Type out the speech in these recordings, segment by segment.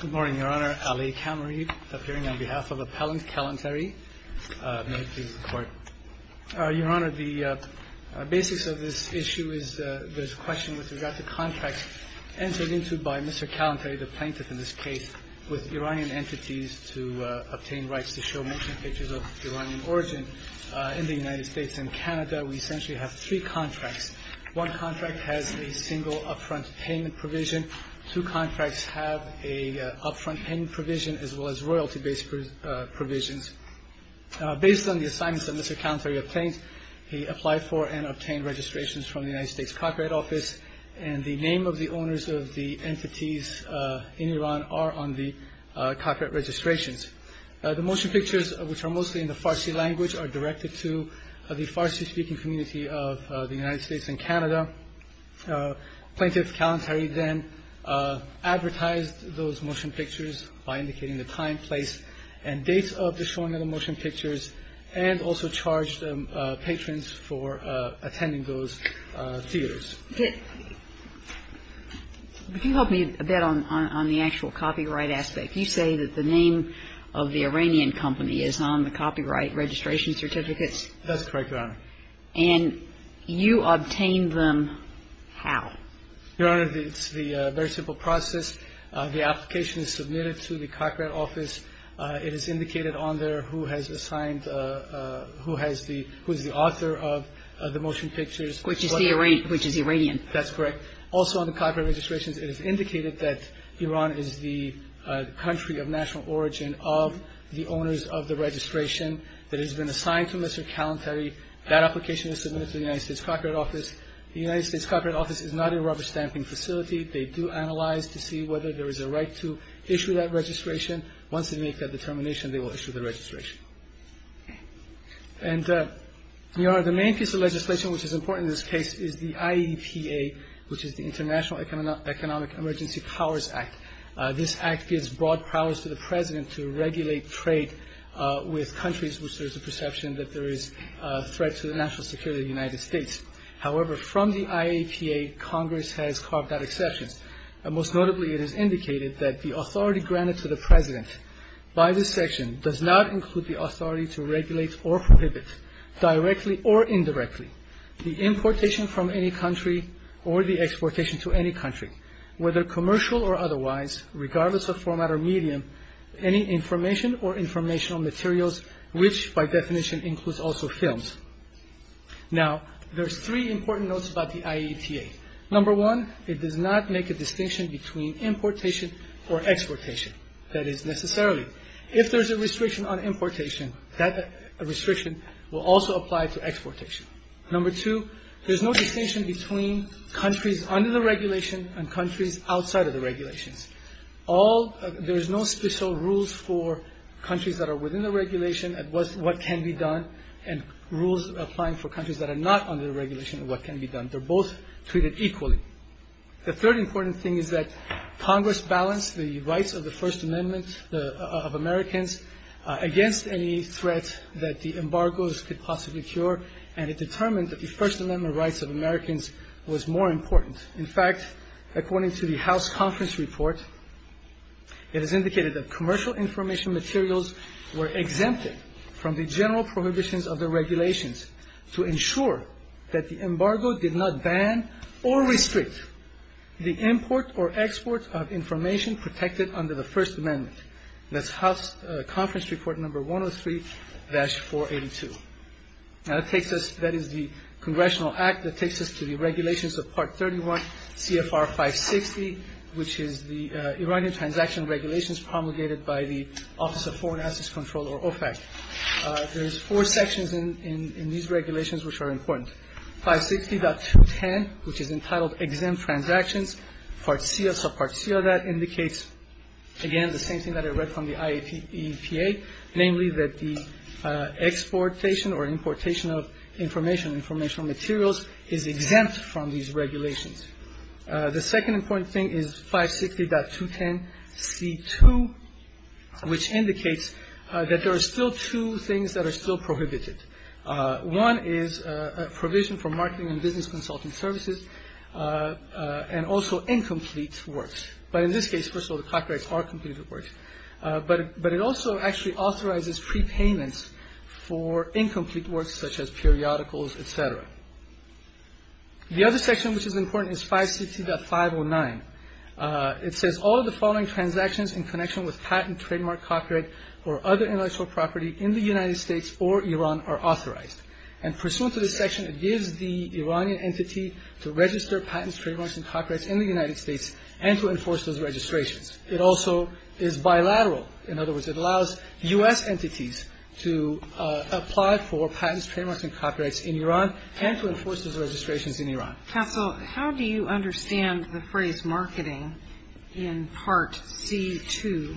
Good morning, Your Honor. Ali Kamarid, appearing on behalf of Appellant Kalantari, may it please the Court. Your Honor, the basics of this issue is there's a question with regard to contracts entered into by Mr. Kalantari, the plaintiff in this case, with Iranian entities to obtain rights to show motion pictures of Iranian origin in the United States and Canada. We essentially have three contracts. One contract has a single upfront payment provision. Two contracts have a upfront pending provision as well as royalty-based provisions. Based on the assignments that Mr. Kalantari obtained, he applied for and obtained registrations from the United States Copyright Office, and the name of the owners of the entities in Iran are on the copyright registrations. The motion pictures, which are mostly in the Farsi language, are directed to the Farsi-speaking community of the United States and Canada. Plaintiff Kalantari then advertised those motion pictures by indicating the time, place, and dates of the showing of the motion pictures, and also charged patrons for attending those theaters. Could you help me a bit on the actual copyright aspect? You say that the name of the Iranian company is on the copyright registration certificates. That's correct, Your Honor. And you obtained them how? Your Honor, it's the very simple process. The application is submitted to the Copyright Office. It is indicated on there who has assigned, who has the, who is the author of the motion pictures. Which is the Iranian. That's correct. Also on the copyright registrations, it is indicated that Iran is the country of national origin of the owners of the registration that has been assigned to Mr. Kalantari. That application is submitted to the United States Copyright Office. The United States Copyright Office is not a rubber-stamping facility. They do analyze to see whether there is a right to issue that registration. Once they make that determination, they will issue the registration. And, Your Honor, the main piece of legislation which is important in this case is the IEPA, which is the International Economic Emergency Powers Act. This act gives broad powers to the President to regulate trade with countries which there is a perception that there is a threat to the national security of the United States. However, from the IEPA, Congress has carved out exceptions. Most notably, it is indicated that the authority granted to the President by this section does not include the authority to regulate or prohibit directly or indirectly the importation from any country or the exportation to any country, whether commercial or otherwise, regardless of format or medium, any information or informational materials, which, by definition, includes also films. Now, there are three important notes about the IEPA. Number one, it does not make a distinction between importation or exportation. That is necessarily. If there is a restriction on importation, that restriction will also apply to exportation. Number two, there is no distinction between countries under the regulation and countries outside of the regulations. There is no special rules for countries that are within the regulation of what can be done and rules applying for countries that are not under the regulation of what can be done. They're both treated equally. The third important thing is that Congress balanced the rights of the First Amendment of Americans against any threat that the embargoes could possibly cure, and it determined that the First Amendment rights of Americans was more important. In fact, according to the House conference report, it is indicated that commercial information materials were exempted from the general prohibitions of the regulations to ensure that the embargo did not ban or restrict the import or export of information protected under the First Amendment. That's House conference report number 103-482. Now that takes us, that is the Congressional Act that takes us to the regulations of Part 31 CFR 560, which is the Iranian transaction regulations promulgated by the Office of Foreign Assets Control or OFAC. There's four sections in these regulations which are important. 560.210, which is entitled Exempt Transactions. Part C of that indicates, again, the same thing that I read from the IEPA, namely that the exportation or importation of information, informational materials, is exempt from these regulations. The second important thing is 560.210C2, which indicates that there are still two things that are still prohibited. One is a provision for marketing and business consulting services and also incomplete works. But in this case, first of all, the copyrights are completed works. But it also actually authorizes prepayments for incomplete works such as periodicals, et cetera. The other section which is important is 560.509. It says all of the following transactions in connection with patent, trademark, copyright or other intellectual property in the United States or Iran are authorized. And pursuant to this section, it gives the Iranian entity to register patents, trademarks and copyrights in the United States and to enforce those registrations. It also is bilateral. In other words, it allows U.S. entities to apply for patents, trademarks and copyrights in Iran and to enforce those registrations in Iran. Counsel, how do you understand the phrase marketing in Part C2?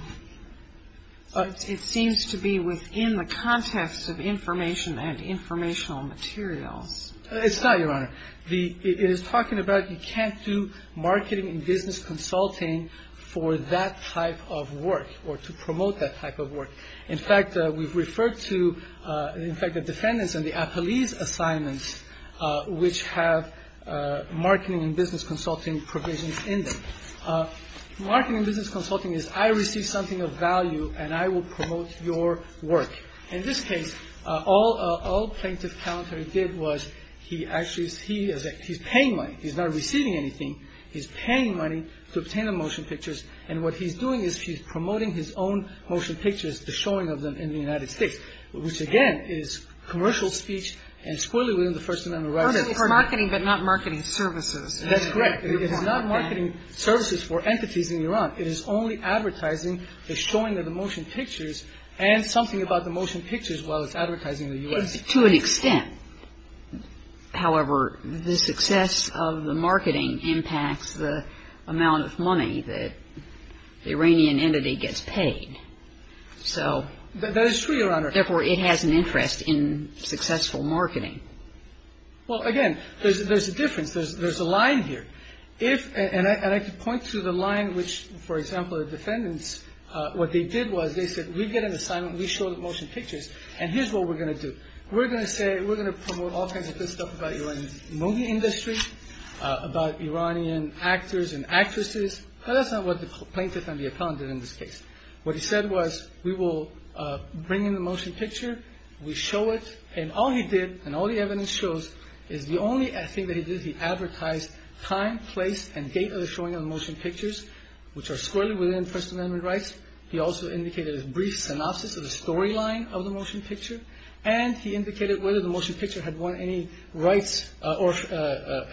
It seems to be within the context of information and informational materials. It's not, Your Honor. It is talking about you can't do marketing and business consulting for that type of work or to promote that type of work. In fact, we've referred to, in fact, the defendants and the appellees' assignments which have marketing and business consulting provisions in them. Marketing and business consulting is I receive something of value and I will promote your work. In this case, all Plaintiff Kalantari did was he actually is paying money. He's not receiving anything. He's paying money to obtain the motion pictures. And what he's doing is he's promoting his own motion pictures, the showing of them in the United States, which, again, is commercial speech and squarely within the First Amendment rights. It's marketing but not marketing services. That's correct. It is not marketing services for entities in Iran. It is only advertising the showing of the motion pictures and something about the motion pictures while it's advertising the U.S. To an extent, however, the success of the marketing impacts the amount of money that the Iranian entity gets paid. So... That is true, Your Honor. Therefore, it has an interest in successful marketing. Well, again, there's a difference. There's a line here. If, and I could point to the line which, for example, the defendants, what they did was they said we get an assignment, we show the motion pictures, and here's what we're going to do. We're going to say, we're going to promote all kinds of good stuff about Iranian movie industry, about Iranian actors and actresses. But that's not what the plaintiff and the accountant did in this case. What he said was we will bring in the motion picture, we show it, and all he did, and all the evidence shows, is the only thing that he did is he advertised time, place, and date of the showing of the motion pictures, which are squarely within First Amendment rights. He also indicated a brief synopsis of the storyline of the motion picture, and he indicated whether the motion picture had won any rights or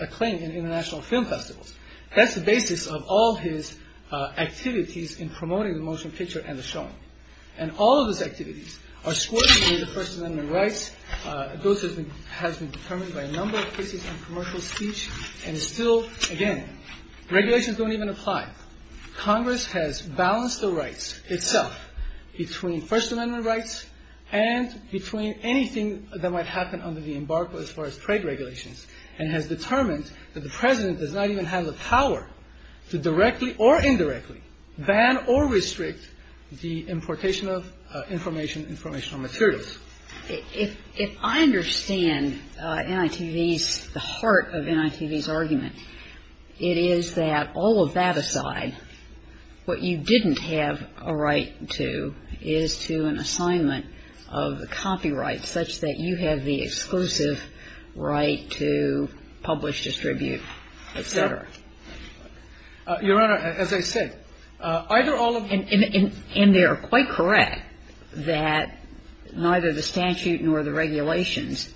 acclaim in international film festivals. That's the basis of all his activities in promoting the motion picture and the showing. And all of his activities are squarely within First Amendment rights. Those have been determined by a number of cases in commercial speech, and still, again, regulations don't even apply. Congress has balanced the rights itself between First Amendment rights and between anything that might happen under the embargo as far as trade regulations and has determined that the President does not even have the power to directly or indirectly ban or restrict the importation of information, informational materials. If I understand NITV's, the heart of NITV's argument, it is that all of that aside, what you didn't have a right to is to an assignment of the copyright, such that you have the exclusive right to publish, distribute, et cetera. Your Honor, as I said, either all of these. And they are quite correct that neither the statute nor the regulations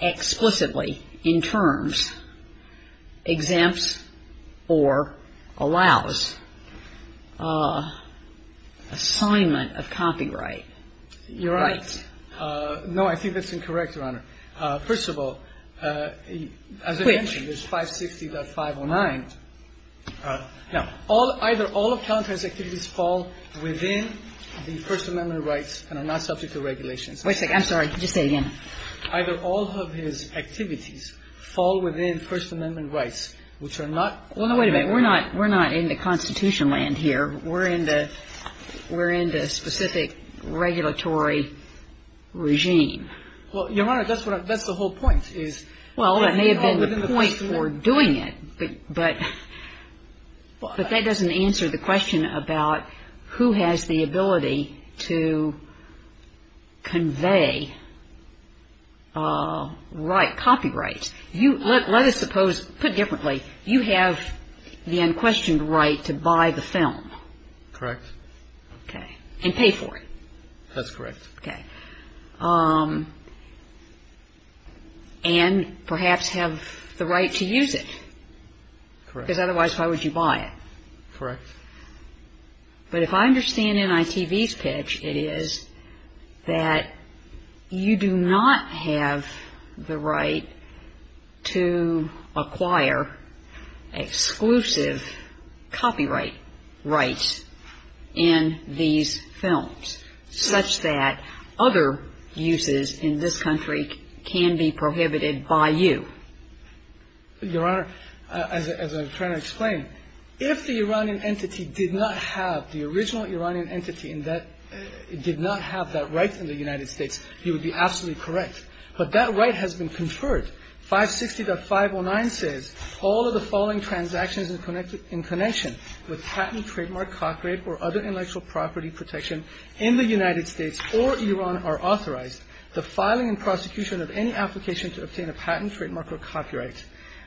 explicitly, in terms, exempts or allows assignment of copyright rights. No, I think that's incorrect, Your Honor. First of all, as I mentioned, there's 560.509. Now, either all of Kalantari's activities fall within the First Amendment rights and are not subject to regulations. Wait a second. I'm sorry. Just say it again. Either all of his activities fall within First Amendment rights, which are not. Well, no, wait a minute. We're not in the Constitution land here. We're in the specific regulatory regime. Well, Your Honor, that's the whole point is. Well, that may have been the point for doing it. But that doesn't answer the question about who has the ability to convey copyright. Let us suppose, put differently, you have the unquestioned right to buy the film. Correct. Okay. And pay for it. That's correct. Okay. And perhaps have the right to use it. Correct. Because otherwise, why would you buy it? Correct. But if I understand NITV's pitch, it is that you do not have the right to acquire exclusive copyright rights in these films, such that other uses in this country can be prohibited by you. Your Honor, as I'm trying to explain, if the Iranian entity did not have the original Iranian entity and did not have that right in the United States, you would be absolutely correct. But that right has been conferred. 560.509 says, all of the following transactions in connection with patent, trademark, copyright, or other intellectual property protection in the United States or Iran are authorized. The filing and prosecution of any application to obtain a patent, trademark, or copyright.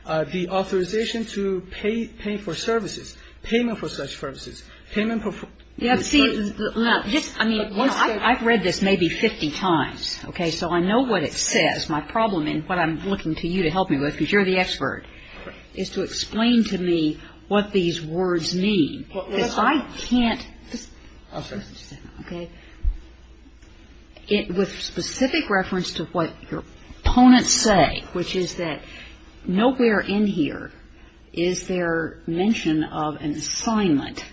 The authorization to pay for services, payment for such services. Payment for services. I've read this maybe 50 times. Okay. So I know what it says. My problem in what I'm looking to you to help me with, because you're the expert, is to explain to me what these words mean. Because I can't just understand, okay, with specific reference to what your opponents say, which is that nowhere in here is there mention of an assignment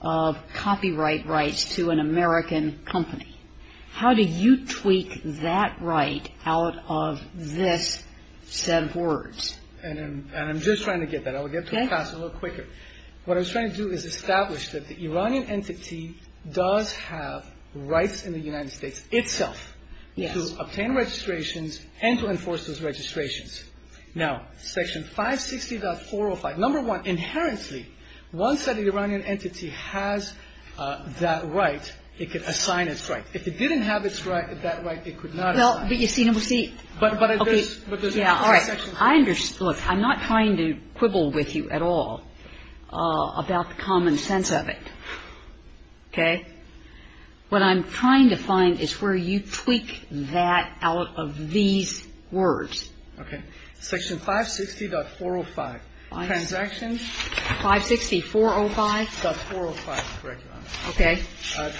of copyright rights to an American company. How do you tweak that right out of this set of words? And I'm just trying to get that. I will get to it faster, a little quicker. Okay. What I was trying to do is establish that the Iranian entity does have rights in the United States itself. Yes. To obtain registrations and to enforce those registrations. Now, Section 560.405, number one, inherently, once the Iranian entity has that right, it could assign its rights. If it didn't have its right, that right, it could not assign. Well, but you see. Okay. Yeah. All right. I understand. Look, I'm not trying to quibble with you at all about the common sense of it. Okay. What I'm trying to find is where you tweak that out of these words. Section 560.405. Transactions. 560.405. .405. Correct. Okay.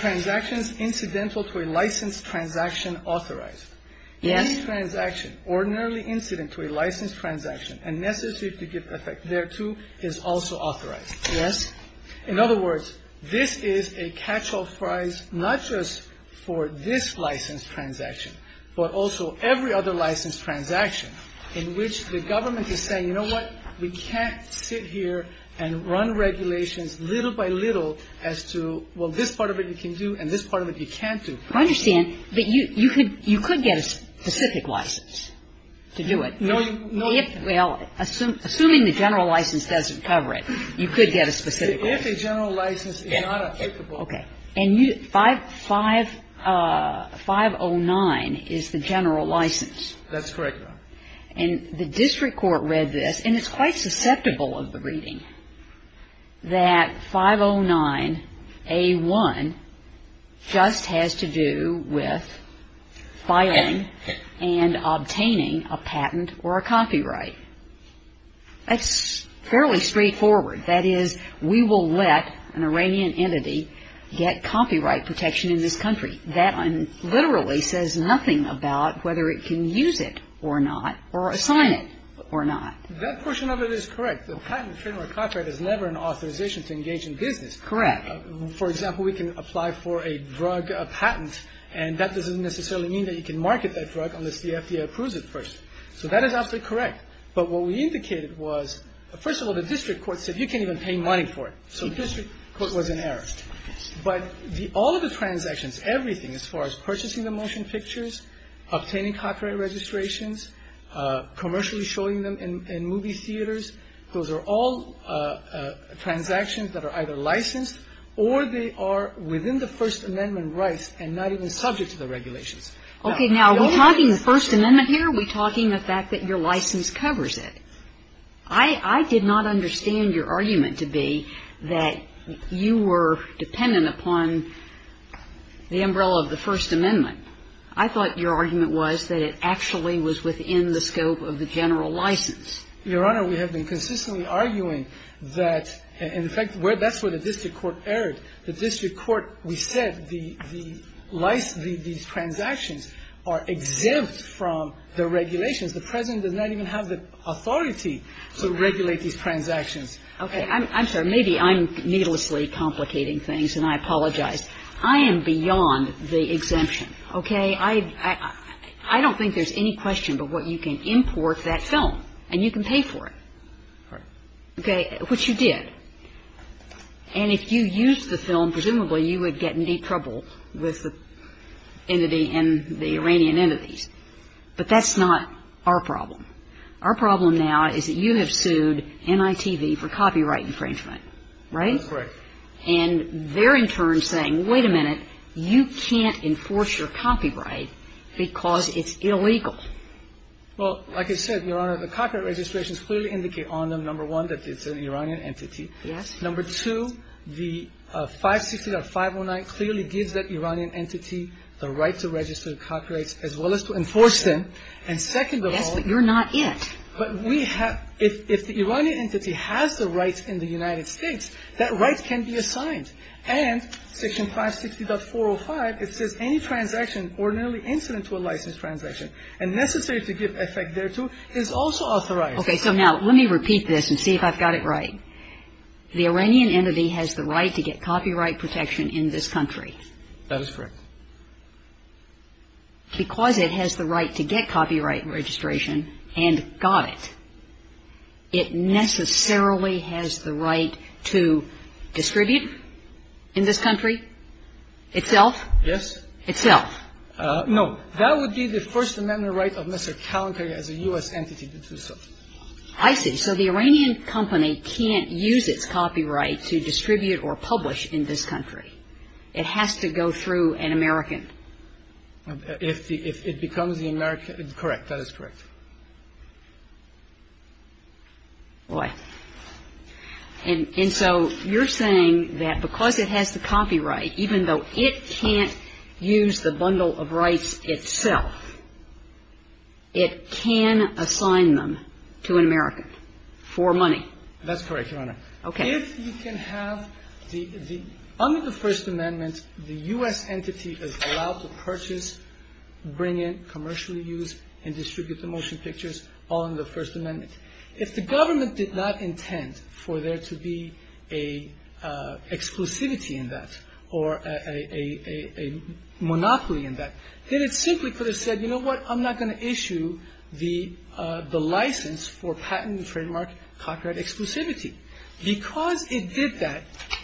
Transactions incidental to a licensed transaction authorized. Yes. Any transaction ordinarily incident to a licensed transaction and necessary to give effect thereto is also authorized. Yes. In other words, this is a catch-all prize not just for this licensed transaction, but also every other licensed transaction in which the government is saying, You know what? We can't sit here and run regulations little by little as to, well, this part of it you can do and this part of it you can't do. I understand. But you could get a specific license to do it. No. Well, assuming the general license doesn't cover it, you could get a specific license. If a general license is not applicable. Okay. And 509 is the general license. That's correct, Your Honor. And the district court read this, and it's quite susceptible of the reading, that 509A1 just has to do with filing and obtaining a patent or a copyright. That's fairly straightforward. That is, we will let an Iranian entity get copyright protection in this country. That literally says nothing about whether it can use it or not or assign it or not. That portion of it is correct. The patent or copyright is never an authorization to engage in business. Correct. For example, we can apply for a drug patent, and that doesn't necessarily mean that you can market that drug unless the FDA approves it first. So that is absolutely correct. But what we indicated was, first of all, the district court said, You can't even pay money for it. So the district court was in error. But all of the transactions, everything as far as purchasing the motion pictures, obtaining copyright registrations, commercially showing them in movie theaters, those are all transactions that are either licensed or they are within the First Amendment rights and not even subject to the regulations. Okay. Now, are we talking the First Amendment here, or are we talking the fact that your license covers it? I did not understand your argument to be that you were dependent upon the umbrella of the First Amendment. I thought your argument was that it actually was within the scope of the general license. Your Honor, we have been consistently arguing that, in fact, that's where the district court erred. The district court, we said the license, these transactions are exempt from the regulations. The President does not even have the authority to regulate these transactions. Okay. I'm sorry. Maybe I'm needlessly complicating things, and I apologize. I am beyond the exemption. Okay. I don't think there's any question but what you can import that film, and you can pay for it. All right. Okay. Which you did. And if you used the film, presumably you would get in deep trouble with the entity and the Iranian entities. But that's not our problem. Our problem now is that you have sued MITV for copyright infringement. Right? That's right. And they're in turn saying, wait a minute, you can't enforce your copyright because it's illegal. Well, like I said, Your Honor, the copyright registrations clearly indicate on them, number one, that it's an Iranian entity. Yes. Number two, the 560.509 clearly gives that Iranian entity the right to register copyrights as well as to enforce them. And second of all. Yes, but you're not it. But we have – if the Iranian entity has the rights in the United States, that right can be assigned. And Section 560.405, it says any transaction ordinarily incident to a licensed transaction and necessary to give effect thereto is also authorized. Okay. So now let me repeat this and see if I've got it right. The Iranian entity has the right to get copyright protection in this country. That is correct. Because it has the right to get copyright registration and got it, it necessarily has the right to distribute in this country itself? Yes. Itself. No. That would be the First Amendment right of Mr. Calantari as a U.S. entity to do so. I see. So the Iranian company can't use its copyright to distribute or publish in this country. It has to go through an American. If it becomes the American – correct. That is correct. Boy. And so you're saying that because it has the copyright, even though it can't use the bundle of rights itself, it can assign them to an American for money? That's correct, Your Honor. Okay. If you can have the – under the First Amendment, the U.S. entity is allowed to purchase, bring in, commercially use, and distribute the motion pictures all under the First Amendment. If the government did not intend for there to be a exclusivity in that or a monopoly in that, then it simply could have said, you know what, I'm not going to issue the license for patent and trademark copyright exclusivity. Because it did that,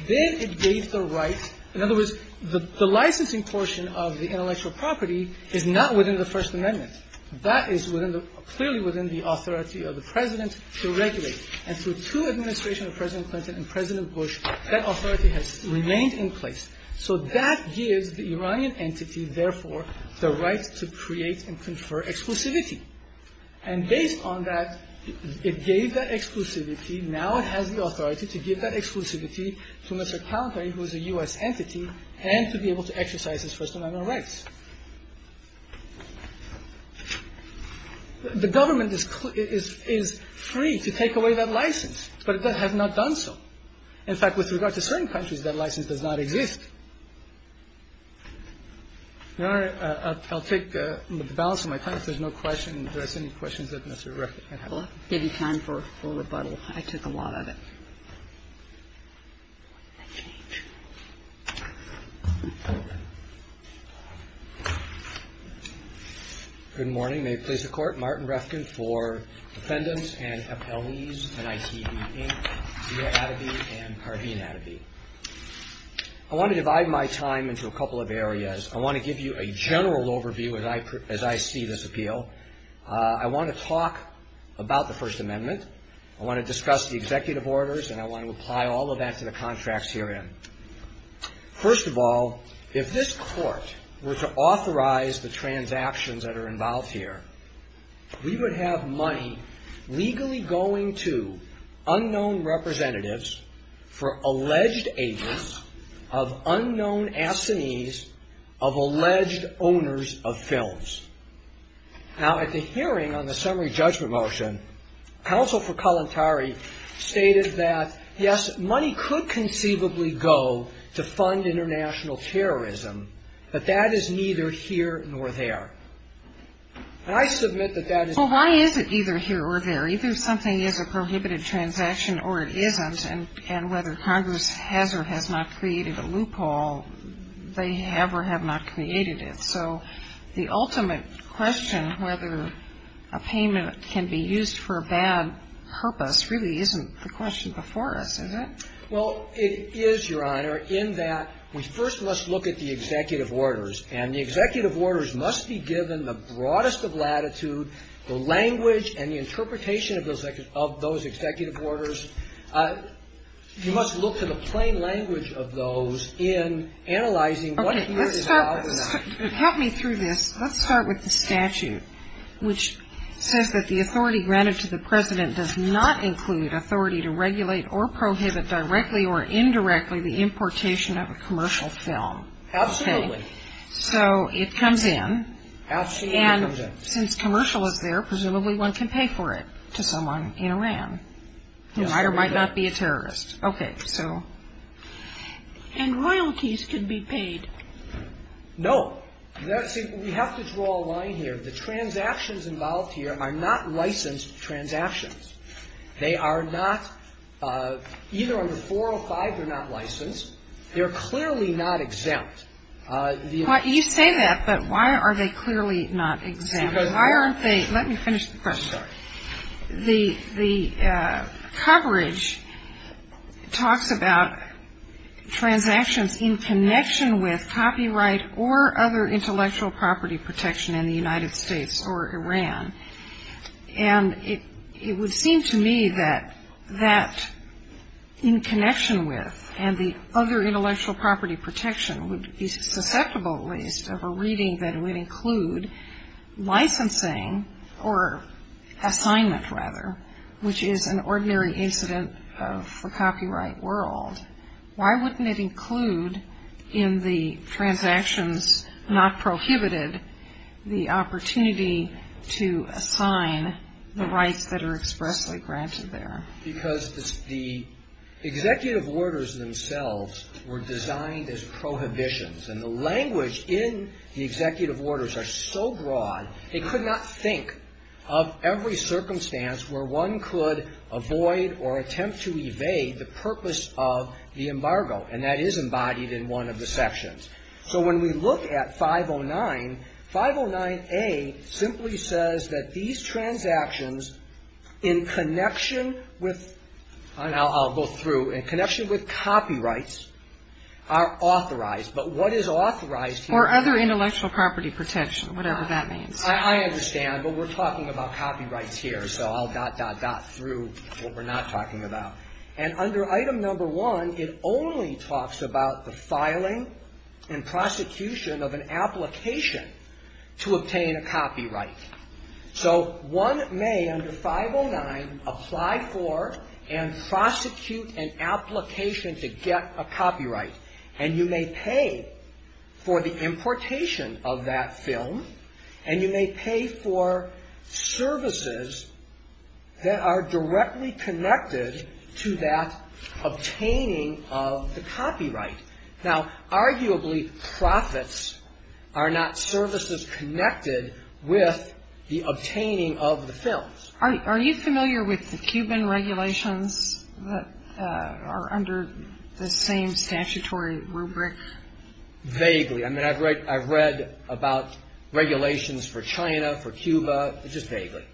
then it gave the right – in other words, the licensing portion of the intellectual property is not within the First Amendment. That is clearly within the authority of the President to regulate. And through two administrations of President Clinton and President Bush, that authority has remained in place. So that gives the Iranian entity, therefore, the right to create and confer exclusivity. And based on that, it gave that exclusivity. Now it has the authority to give that exclusivity to Mr. Kalantari, who is a U.S. entity, and to be able to exercise his First Amendment rights. The government is free to take away that license, but it has not done so. In fact, with regard to certain countries, that license does not exist. Your Honor, I'll take the balance of my time. If there's no questions, do I see any questions that Mr. Refkin had? I'll give you time for rebuttal. I took a lot of it. I changed. Good morning. May it please the Court. Martin Refkin for defendants and appellees in ICB-8, Zia adobe and carbine adobe. I want to divide my time into a couple of areas. I want to give you a general overview as I see this appeal. I want to talk about the First Amendment. I want to discuss the executive orders, and I want to apply all of that to the contracts herein. First of all, if this Court were to authorize the transactions that are involved here, we would have money legally going to unknown representatives for alleged agents of unknown assinees of alleged owners of films. Now, at the hearing on the summary judgment motion, counsel for Kalantari stated that, yes, money could conceivably go to fund international terrorism, but that is neither here nor there. And I submit that that is. Well, why is it either here or there? Either something is a prohibited transaction or it isn't, and whether Congress has or has not created a loophole, they have or have not created it. So the ultimate question, whether a payment can be used for a bad purpose, really isn't the question before us, given the broadest of latitude, the language and the interpretation of those executive orders. You must look to the plain language of those in analyzing what is allowed or not. Okay. Help me through this. Let's start with the statute, which says that the authority granted to the president does not include authority to regulate or prohibit directly or indirectly the importation of a commercial film. Absolutely. So it comes in. Absolutely it comes in. And since commercial is there, presumably one can pay for it to someone in Iran who might or might not be a terrorist. Okay. And royalties can be paid. No. See, we have to draw a line here. The transactions involved here are not licensed transactions. They are not, either under 405, they're not licensed. They're clearly not exempt. You say that, but why are they clearly not exempt? Let me finish the question. The coverage talks about transactions in connection with copyright or other intellectual property protection in the United States or Iran. And it would seem to me that that in connection with and the other intellectual property protection would be susceptible, at least, of a reading that would include licensing or assignment, rather, which is an ordinary incident of the copyright world. Why wouldn't it include in the transactions not prohibited the opportunity to assign the rights that are expressly granted there? Because the executive orders themselves were designed as prohibitions. And the language in the executive orders are so broad, they could not think of every circumstance where one could avoid or attempt to evade the purpose of the embargo, and that is embodied in one of the sections. So when we look at 509, 509A simply says that these transactions in connection with, I'll go through, in connection with copyrights are authorized. But what is authorized here? Another intellectual property protection, whatever that means. I understand, but we're talking about copyrights here, so I'll dot, dot, dot through what we're not talking about. And under Item No. 1, it only talks about the filing and prosecution of an application to obtain a copyright. So one may, under 509, apply for and prosecute an application to get a copyright. And you may pay for the importation of that film. And you may pay for services that are directly connected to that obtaining of the copyright. Now, arguably, profits are not services connected with the obtaining of the films. Are you familiar with the Cuban regulations that are under the same statutory? Vaguely. I mean, I've read about regulations for China, for Cuba, just vaguely.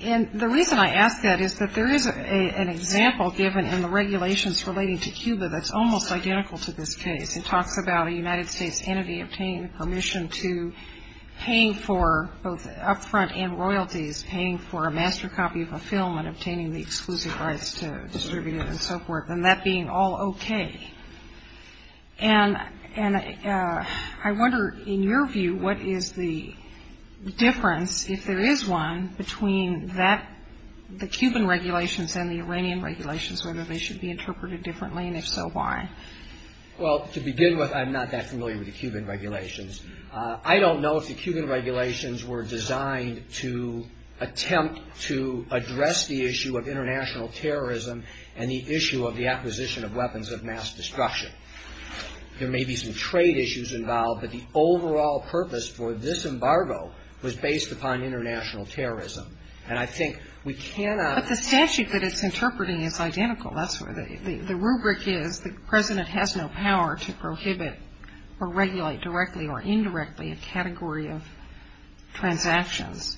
And the reason I ask that is that there is an example given in the regulations relating to Cuba that's almost identical to this case. It talks about a United States entity obtaining permission to paying for both upfront and royalties, paying for a master copy of a film and obtaining the exclusive rights to distribute it and so forth, and that being all okay. And I wonder, in your view, what is the difference, if there is one, between the Cuban regulations and the Iranian regulations, whether they should be interpreted differently, and if so, why? Well, to begin with, I'm not that familiar with the Cuban regulations. I don't know if the Cuban regulations were designed to attempt to address the issue of international terrorism and the issue of the acquisition of weapons of mass destruction. There may be some trade issues involved, but the overall purpose for this embargo was based upon international terrorism. And I think we cannot ---- But the statute that it's interpreting is identical. The rubric is the President has no power to prohibit or regulate directly or indirectly a category of transactions.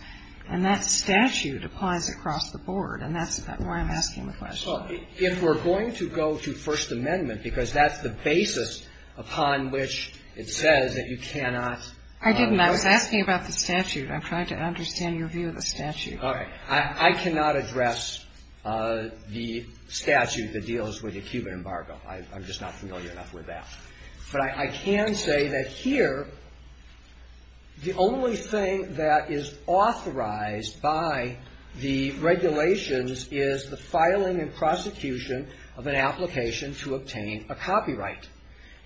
And that statute applies across the board, and that's why I'm asking the question. Well, if we're going to go to First Amendment, because that's the basis upon which it says that you cannot ---- I didn't. I was asking about the statute. I'm trying to understand your view of the statute. All right. I cannot address the statute that deals with the Cuban embargo. I'm just not familiar enough with that. But I can say that here, the only thing that is authorized by the regulations is the filing and prosecution of an application to obtain a copyright.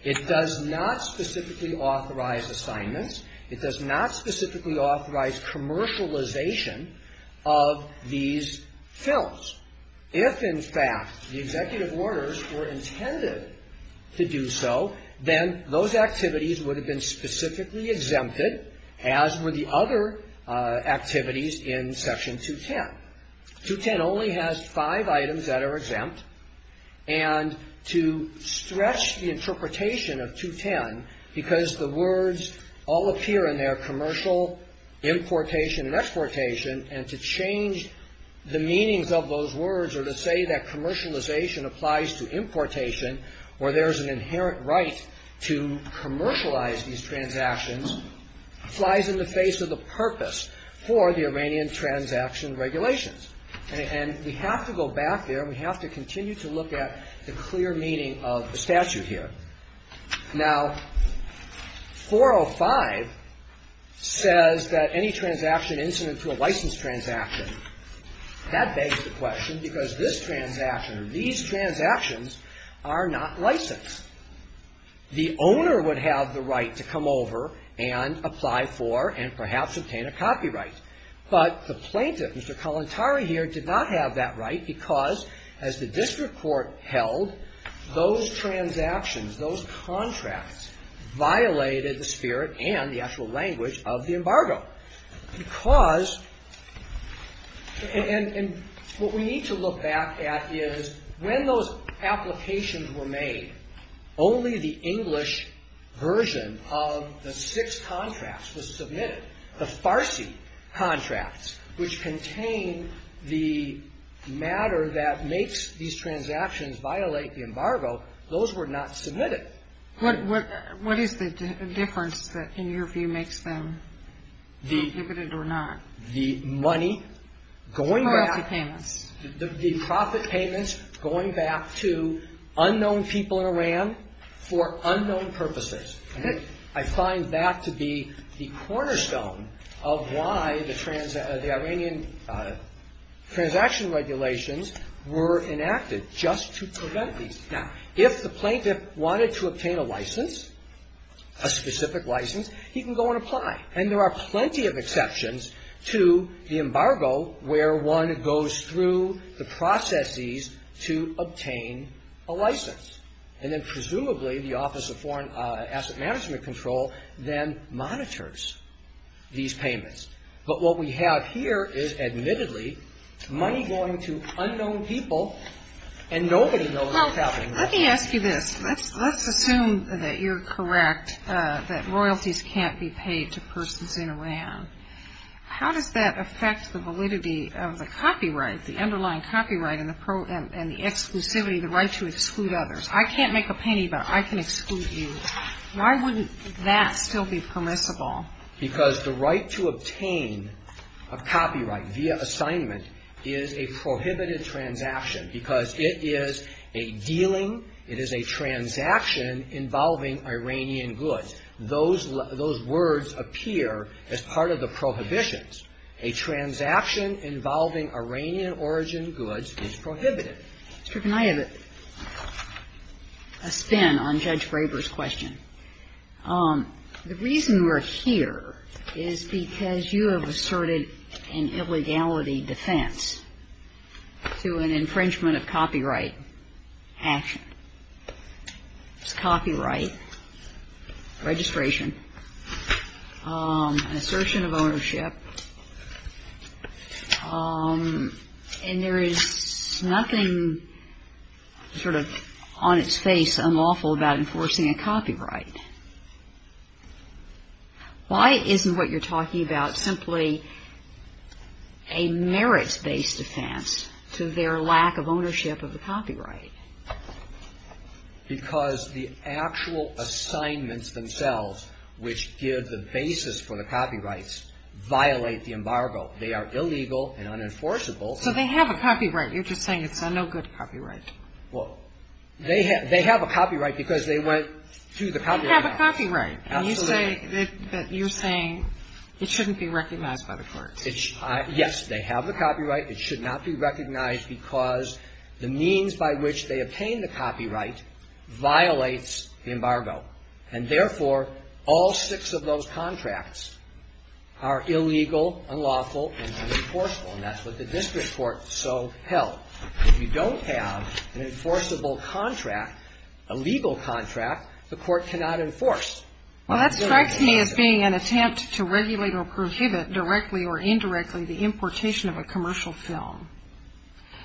It does not specifically authorize assignments. It does not specifically authorize commercialization of these films. If, in fact, the executive orders were intended to do so, then those activities would have been specifically exempted, as were the other activities in Section 210. 210 only has five items that are exempt. And to stretch the interpretation of 210, because the words all appear in there, commercial, importation and exportation, and to change the meanings of those words or to say that commercialization applies to importation, where there is an inherent right to commercialize these transactions, flies in the face of the purpose for the Iranian transaction regulations. And we have to go back there. We have to continue to look at the clear meaning of the statute here. Now, 405 says that any transaction incident to a licensed transaction, that begs the question, because this transaction or these transactions are not licensed, the owner would have the right to come over and apply for and perhaps obtain a copyright. But the plaintiff, Mr. Kalantari here, did not have that right because, as the district court held, those transactions, those contracts violated the spirit and the actual language of the embargo. Because, and what we need to look back at is, when those applications were filed, when those applications were made, only the English version of the six contracts was submitted. The Farsi contracts, which contain the matter that makes these transactions violate the embargo, those were not submitted. What is the difference that, in your view, makes them prohibited or not? The money going back to the profit payments, going back to the embargo. Unknown people in Iran for unknown purposes. I find that to be the cornerstone of why the Iranian transaction regulations were enacted, just to prevent these. Now, if the plaintiff wanted to obtain a license, a specific license, he can go and apply. And there are plenty of exceptions to the embargo where one goes through the processes to obtain a license. And then, presumably, the Office of Foreign Asset Management Control then monitors these payments. But what we have here is, admittedly, money going to unknown people, and nobody knows what's happening there. Well, let me ask you this. Let's assume that you're correct that royalties can't be paid to persons in Iran. How does that affect the validity of the copyright, the underlying copyright and the exclusivity, the right to exclude others? I can't make a penny, but I can exclude you. Why wouldn't that still be permissible? Because the right to obtain a copyright via assignment is a prohibited transaction, because it is a dealing, it is a transaction involving Iranian goods. Those words appear as part of the prohibitions. A transaction involving Iranian-origin goods is prohibited. Justice Kagan, I have a spin on Judge Graber's question. The reason we're here is because you have asserted an illegality defense to an infringement of copyright action. It's copyright, registration, an assertion of ownership, and there is nothing sort of on its face unlawful about enforcing a copyright. Why isn't what you're talking about simply a merits-based defense to their lack of ownership of the copyright? Because the actual assignments themselves, which give the basis for the copyrights, violate the embargo. They are illegal and unenforceable. So they have a copyright. You're just saying it's a no-good copyright. Well, they have a copyright because they went through the copyright process. You have a copyright, and you say that you're saying it shouldn't be recognized by the courts. Yes, they have the copyright. It should not be recognized because the means by which they obtain the copyright violates the embargo. And therefore, all six of those contracts are illegal, unlawful, and unenforceable, and that's what the district court so held. If you don't have an enforceable contract, a legal contract, the court cannot enforce. Well, that strikes me as being an attempt to regulate or prohibit directly or indirectly the importation of a commercial film,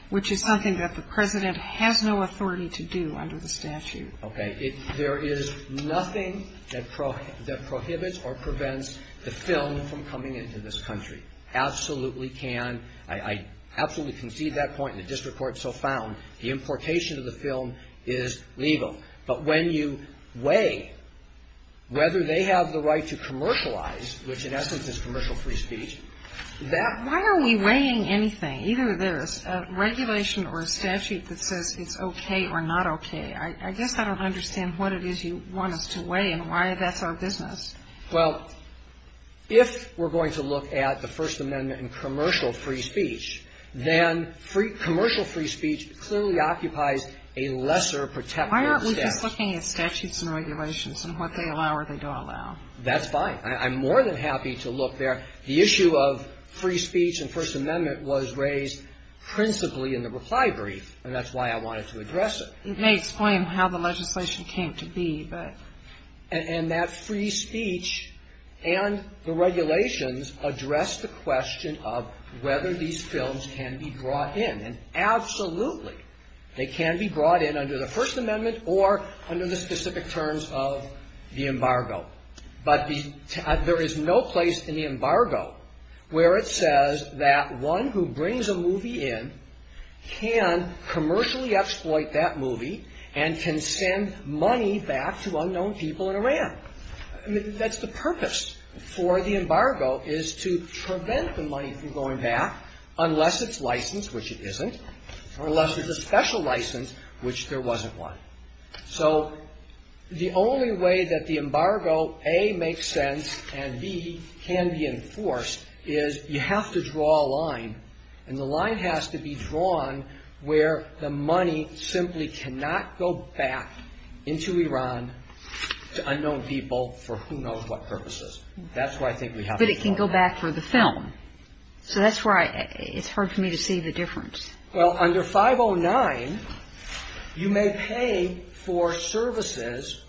which is something that the President has no authority to do under the statute. Okay. There is nothing that prohibits or prevents the film from coming into this country. It absolutely can. I absolutely concede that point, and the district court so found the importation of the film is legal. But when you weigh whether they have the right to commercialize, which in essence is commercial free speech, that Why are we weighing anything? Either there's a regulation or a statute that says it's okay or not okay. I guess I don't understand what it is you want us to weigh and why that's our business. Well, if we're going to look at the First Amendment and commercial free speech, then commercial free speech clearly occupies a lesser protective stance. Why aren't we just looking at statutes and regulations and what they allow or they don't allow? That's fine. I'm more than happy to look there. The issue of free speech and First Amendment was raised principally in the reply brief, and that's why I wanted to address it. And that free speech and the regulations address the question of whether these films can be brought in. And absolutely, they can be brought in under the First Amendment or under the specific terms of the embargo. But there is no place in the embargo where it says that one who brings a movie in can commercially exploit that movie and can send money back to unknown people in Iran. That's the purpose for the embargo is to prevent the money from going back unless it's licensed, which it isn't, or unless there's a special license, which there wasn't one. So the only way that the embargo, A, makes sense, and B, can be enforced, is you have to draw a line, and the line has to be drawn where the money simply cannot go back into Iran to unknown people for who knows what purposes. That's why I think we have to draw a line. But it can go back for the film. So that's why it's hard for me to see the difference. Well, under 509, you may pay for services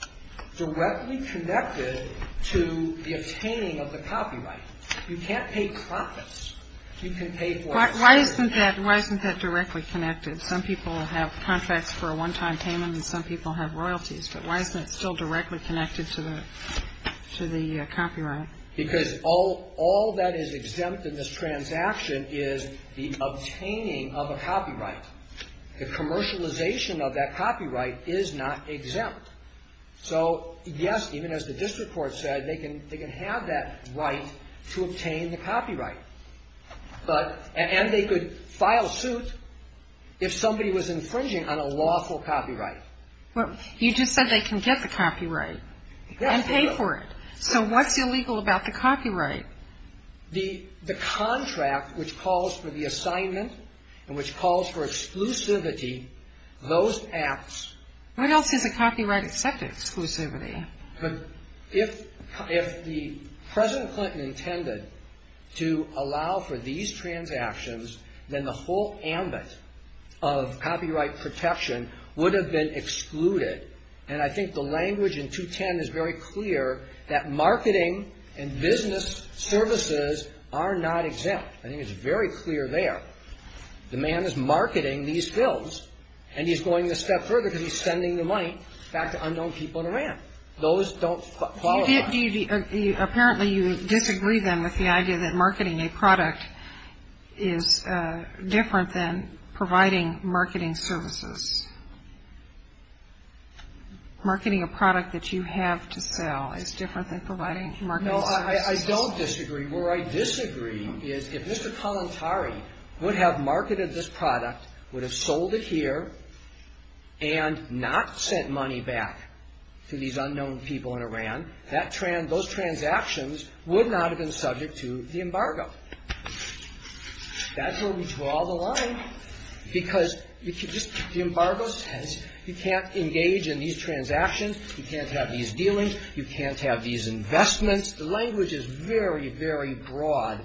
directly connected to the obtaining of the copyright. You can't pay profits. You can pay for... Why isn't that directly connected? Some people have contracts for a one-time payment, and some people have royalties. But why isn't it still directly connected to the copyright? Because all that is exempt in this transaction is the obtaining of a copyright. The commercialization of that copyright is not exempt. So, yes, even as the district court said, they can have that right to obtain the copyright. And they could file suit if somebody was infringing on a lawful copyright. Well, you just said they can get the copyright and pay for it. So what's illegal about the copyright? The contract which calls for the assignment and which calls for exclusivity, those acts... What else is a copyright except exclusivity? If President Clinton intended to allow for these transactions, then the whole ambit of copyright protection would have been excluded. And I think the language in 210 is very clear that marketing and business services are not exempt. I think it's very clear there. The man is marketing these bills, and he's going a step further because he's sending the money back to unknown people in Iran. Those don't qualify. Apparently you disagree then with the idea that marketing a product is different than providing marketing services. Marketing a product that you have to sell is different than providing marketing services. No, I don't disagree. Where I disagree is if Mr. Kalantari would have marketed this product, would have sold it here, and not sent money back to these unknown people in Iran, those transactions would not have been subject to the embargo. That's where we draw the line, because the embargo says you can't engage in these transactions. You can't have these dealings. You can't have these investments. The language is very, very broad,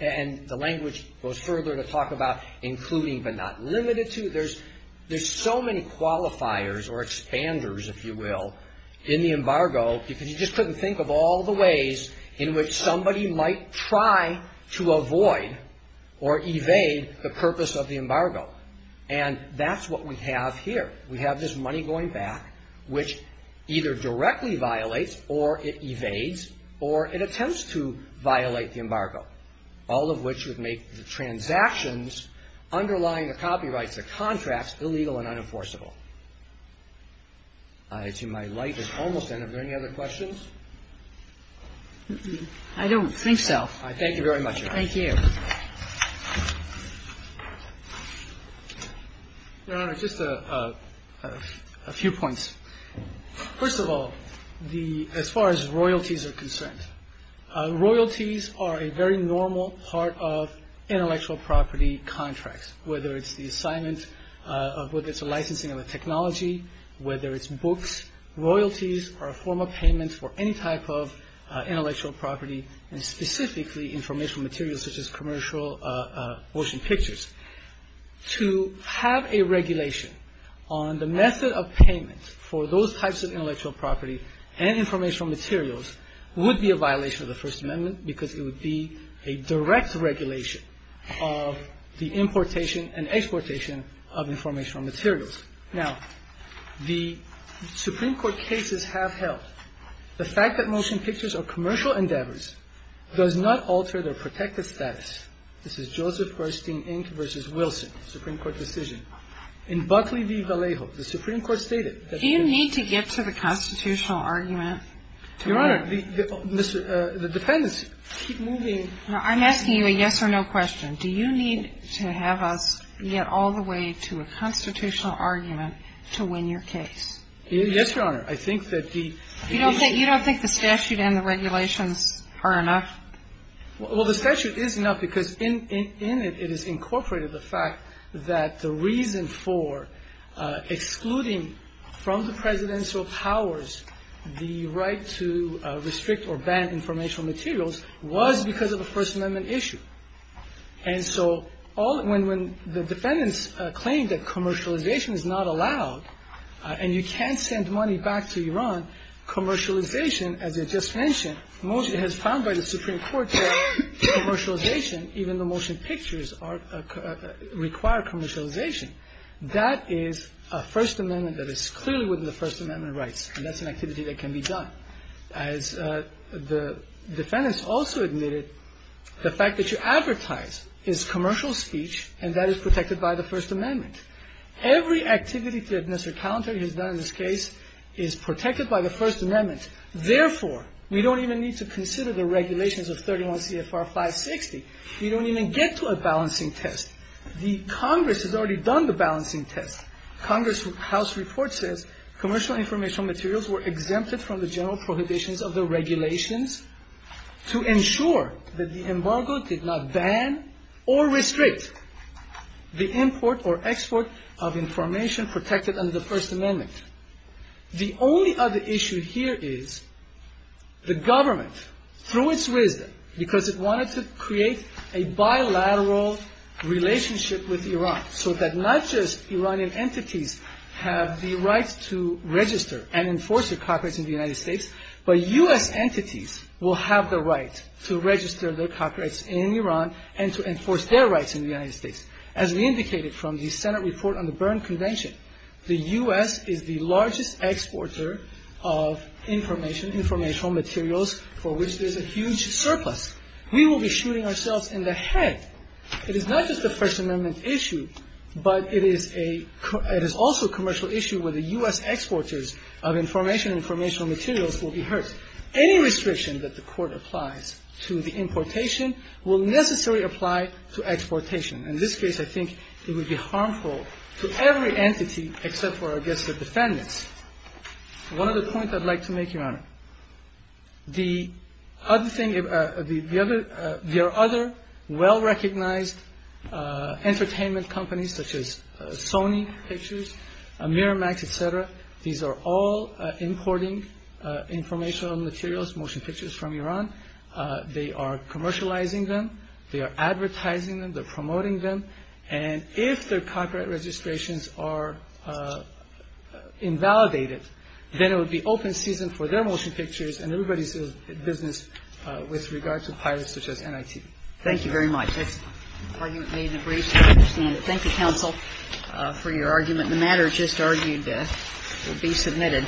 and the language goes further to talk about including but not limited to. There's so many qualifiers or expanders, if you will, in the embargo, because you just couldn't think of all the ways in which somebody might try to avoid or evade the purpose of the embargo, and that's what we have here. We have this money going back, which either directly violates, or it evades, or it attempts to violate the embargo, all of which would make the transactions underlying the copyrights of contracts illegal and unenforceable. I assume my light is almost out. Are there any other questions? I don't think so. I thank you very much, Your Honor. Thank you. Your Honor, just a few points. First of all, as far as royalties are concerned, royalties are a very normal part of intellectual property contracts, whether it's the assignment of whether it's a licensing of a technology, whether it's books. Royalties are a form of payment for any type of intellectual property, and specifically informational materials such as commercial motion pictures. To have a regulation on the method of payment for those types of intellectual property and informational materials would be a violation of the First Amendment because it would be a direct regulation of the importation and exportation of informational materials. Now, the Supreme Court cases have held the fact that motion pictures or commercial endeavors does not alter their protective status. This is Joseph Gerstein, Inc. v. Wilson, Supreme Court decision. In Buckley v. Vallejo, the Supreme Court stated that the ---- Do you need to get to the constitutional argument to win? Your Honor, the defendants keep moving. Now, I'm asking you a yes or no question. Do you need to have us get all the way to a constitutional argument to win your case? Yes, Your Honor. I think that the ---- You don't think the statute and the regulations are enough? Well, the statute is enough because in it, it has incorporated the fact that the reason for excluding from the presidential powers the right to restrict or ban informational materials was because of a First Amendment issue. And so when the defendants claim that commercialization is not allowed and you can't send money back to Iran, commercialization, as I just mentioned, motion has found by the Supreme Court that commercialization, even the motion pictures, require commercialization. That is a First Amendment that is clearly within the First Amendment rights, and that's an activity that can be done. As the defendants also admitted, the fact that you advertise is commercial speech and that is protected by the First Amendment. Every activity that Mr. Calantari has done in this case is protected by the First Amendment. Therefore, we don't even need to consider the regulations of 31 CFR 560. We don't even get to a balancing test. The Congress has already done the balancing test. Congress' House report says commercial informational materials were exempted from the general prohibitions of the regulations to ensure that the embargo did not ban or restrict the import or export of information protected under the First Amendment. The only other issue here is the government, through its wisdom, because it wanted to create a bilateral relationship with Iran so that not just Iranian entities have the right to register and enforce their copyrights in the United States, but U.S. entities will have the right to register their copyrights in Iran and to enforce their rights in the United States. As we indicated from the Senate report on the Berne Convention, the U.S. is the largest exporter of information, informational materials, for which there's a huge surplus. We will be shooting ourselves in the head. It is not just a First Amendment issue, but it is a – it is also a commercial issue where the U.S. exporters of information and informational materials will be hurt. Any restriction that the Court applies to the importation will necessarily apply to exportation. In this case, I think it would be harmful to every entity except for, I guess, the defendants. One other point I'd like to make, Your Honor. The other thing – there are other well-recognized entertainment companies such as Sony Pictures, Miramax, et cetera. These are all importing informational materials, motion pictures, from Iran. They are commercializing them. They are advertising them. They're promoting them. And if their copyright registrations are invalidated, then it would be open season for their motion pictures and everybody's business with regard to pirates such as NIT. Thank you very much. That's the argument made in the brief. I understand it. Thank you, counsel, for your argument. The matter just argued will be submitted.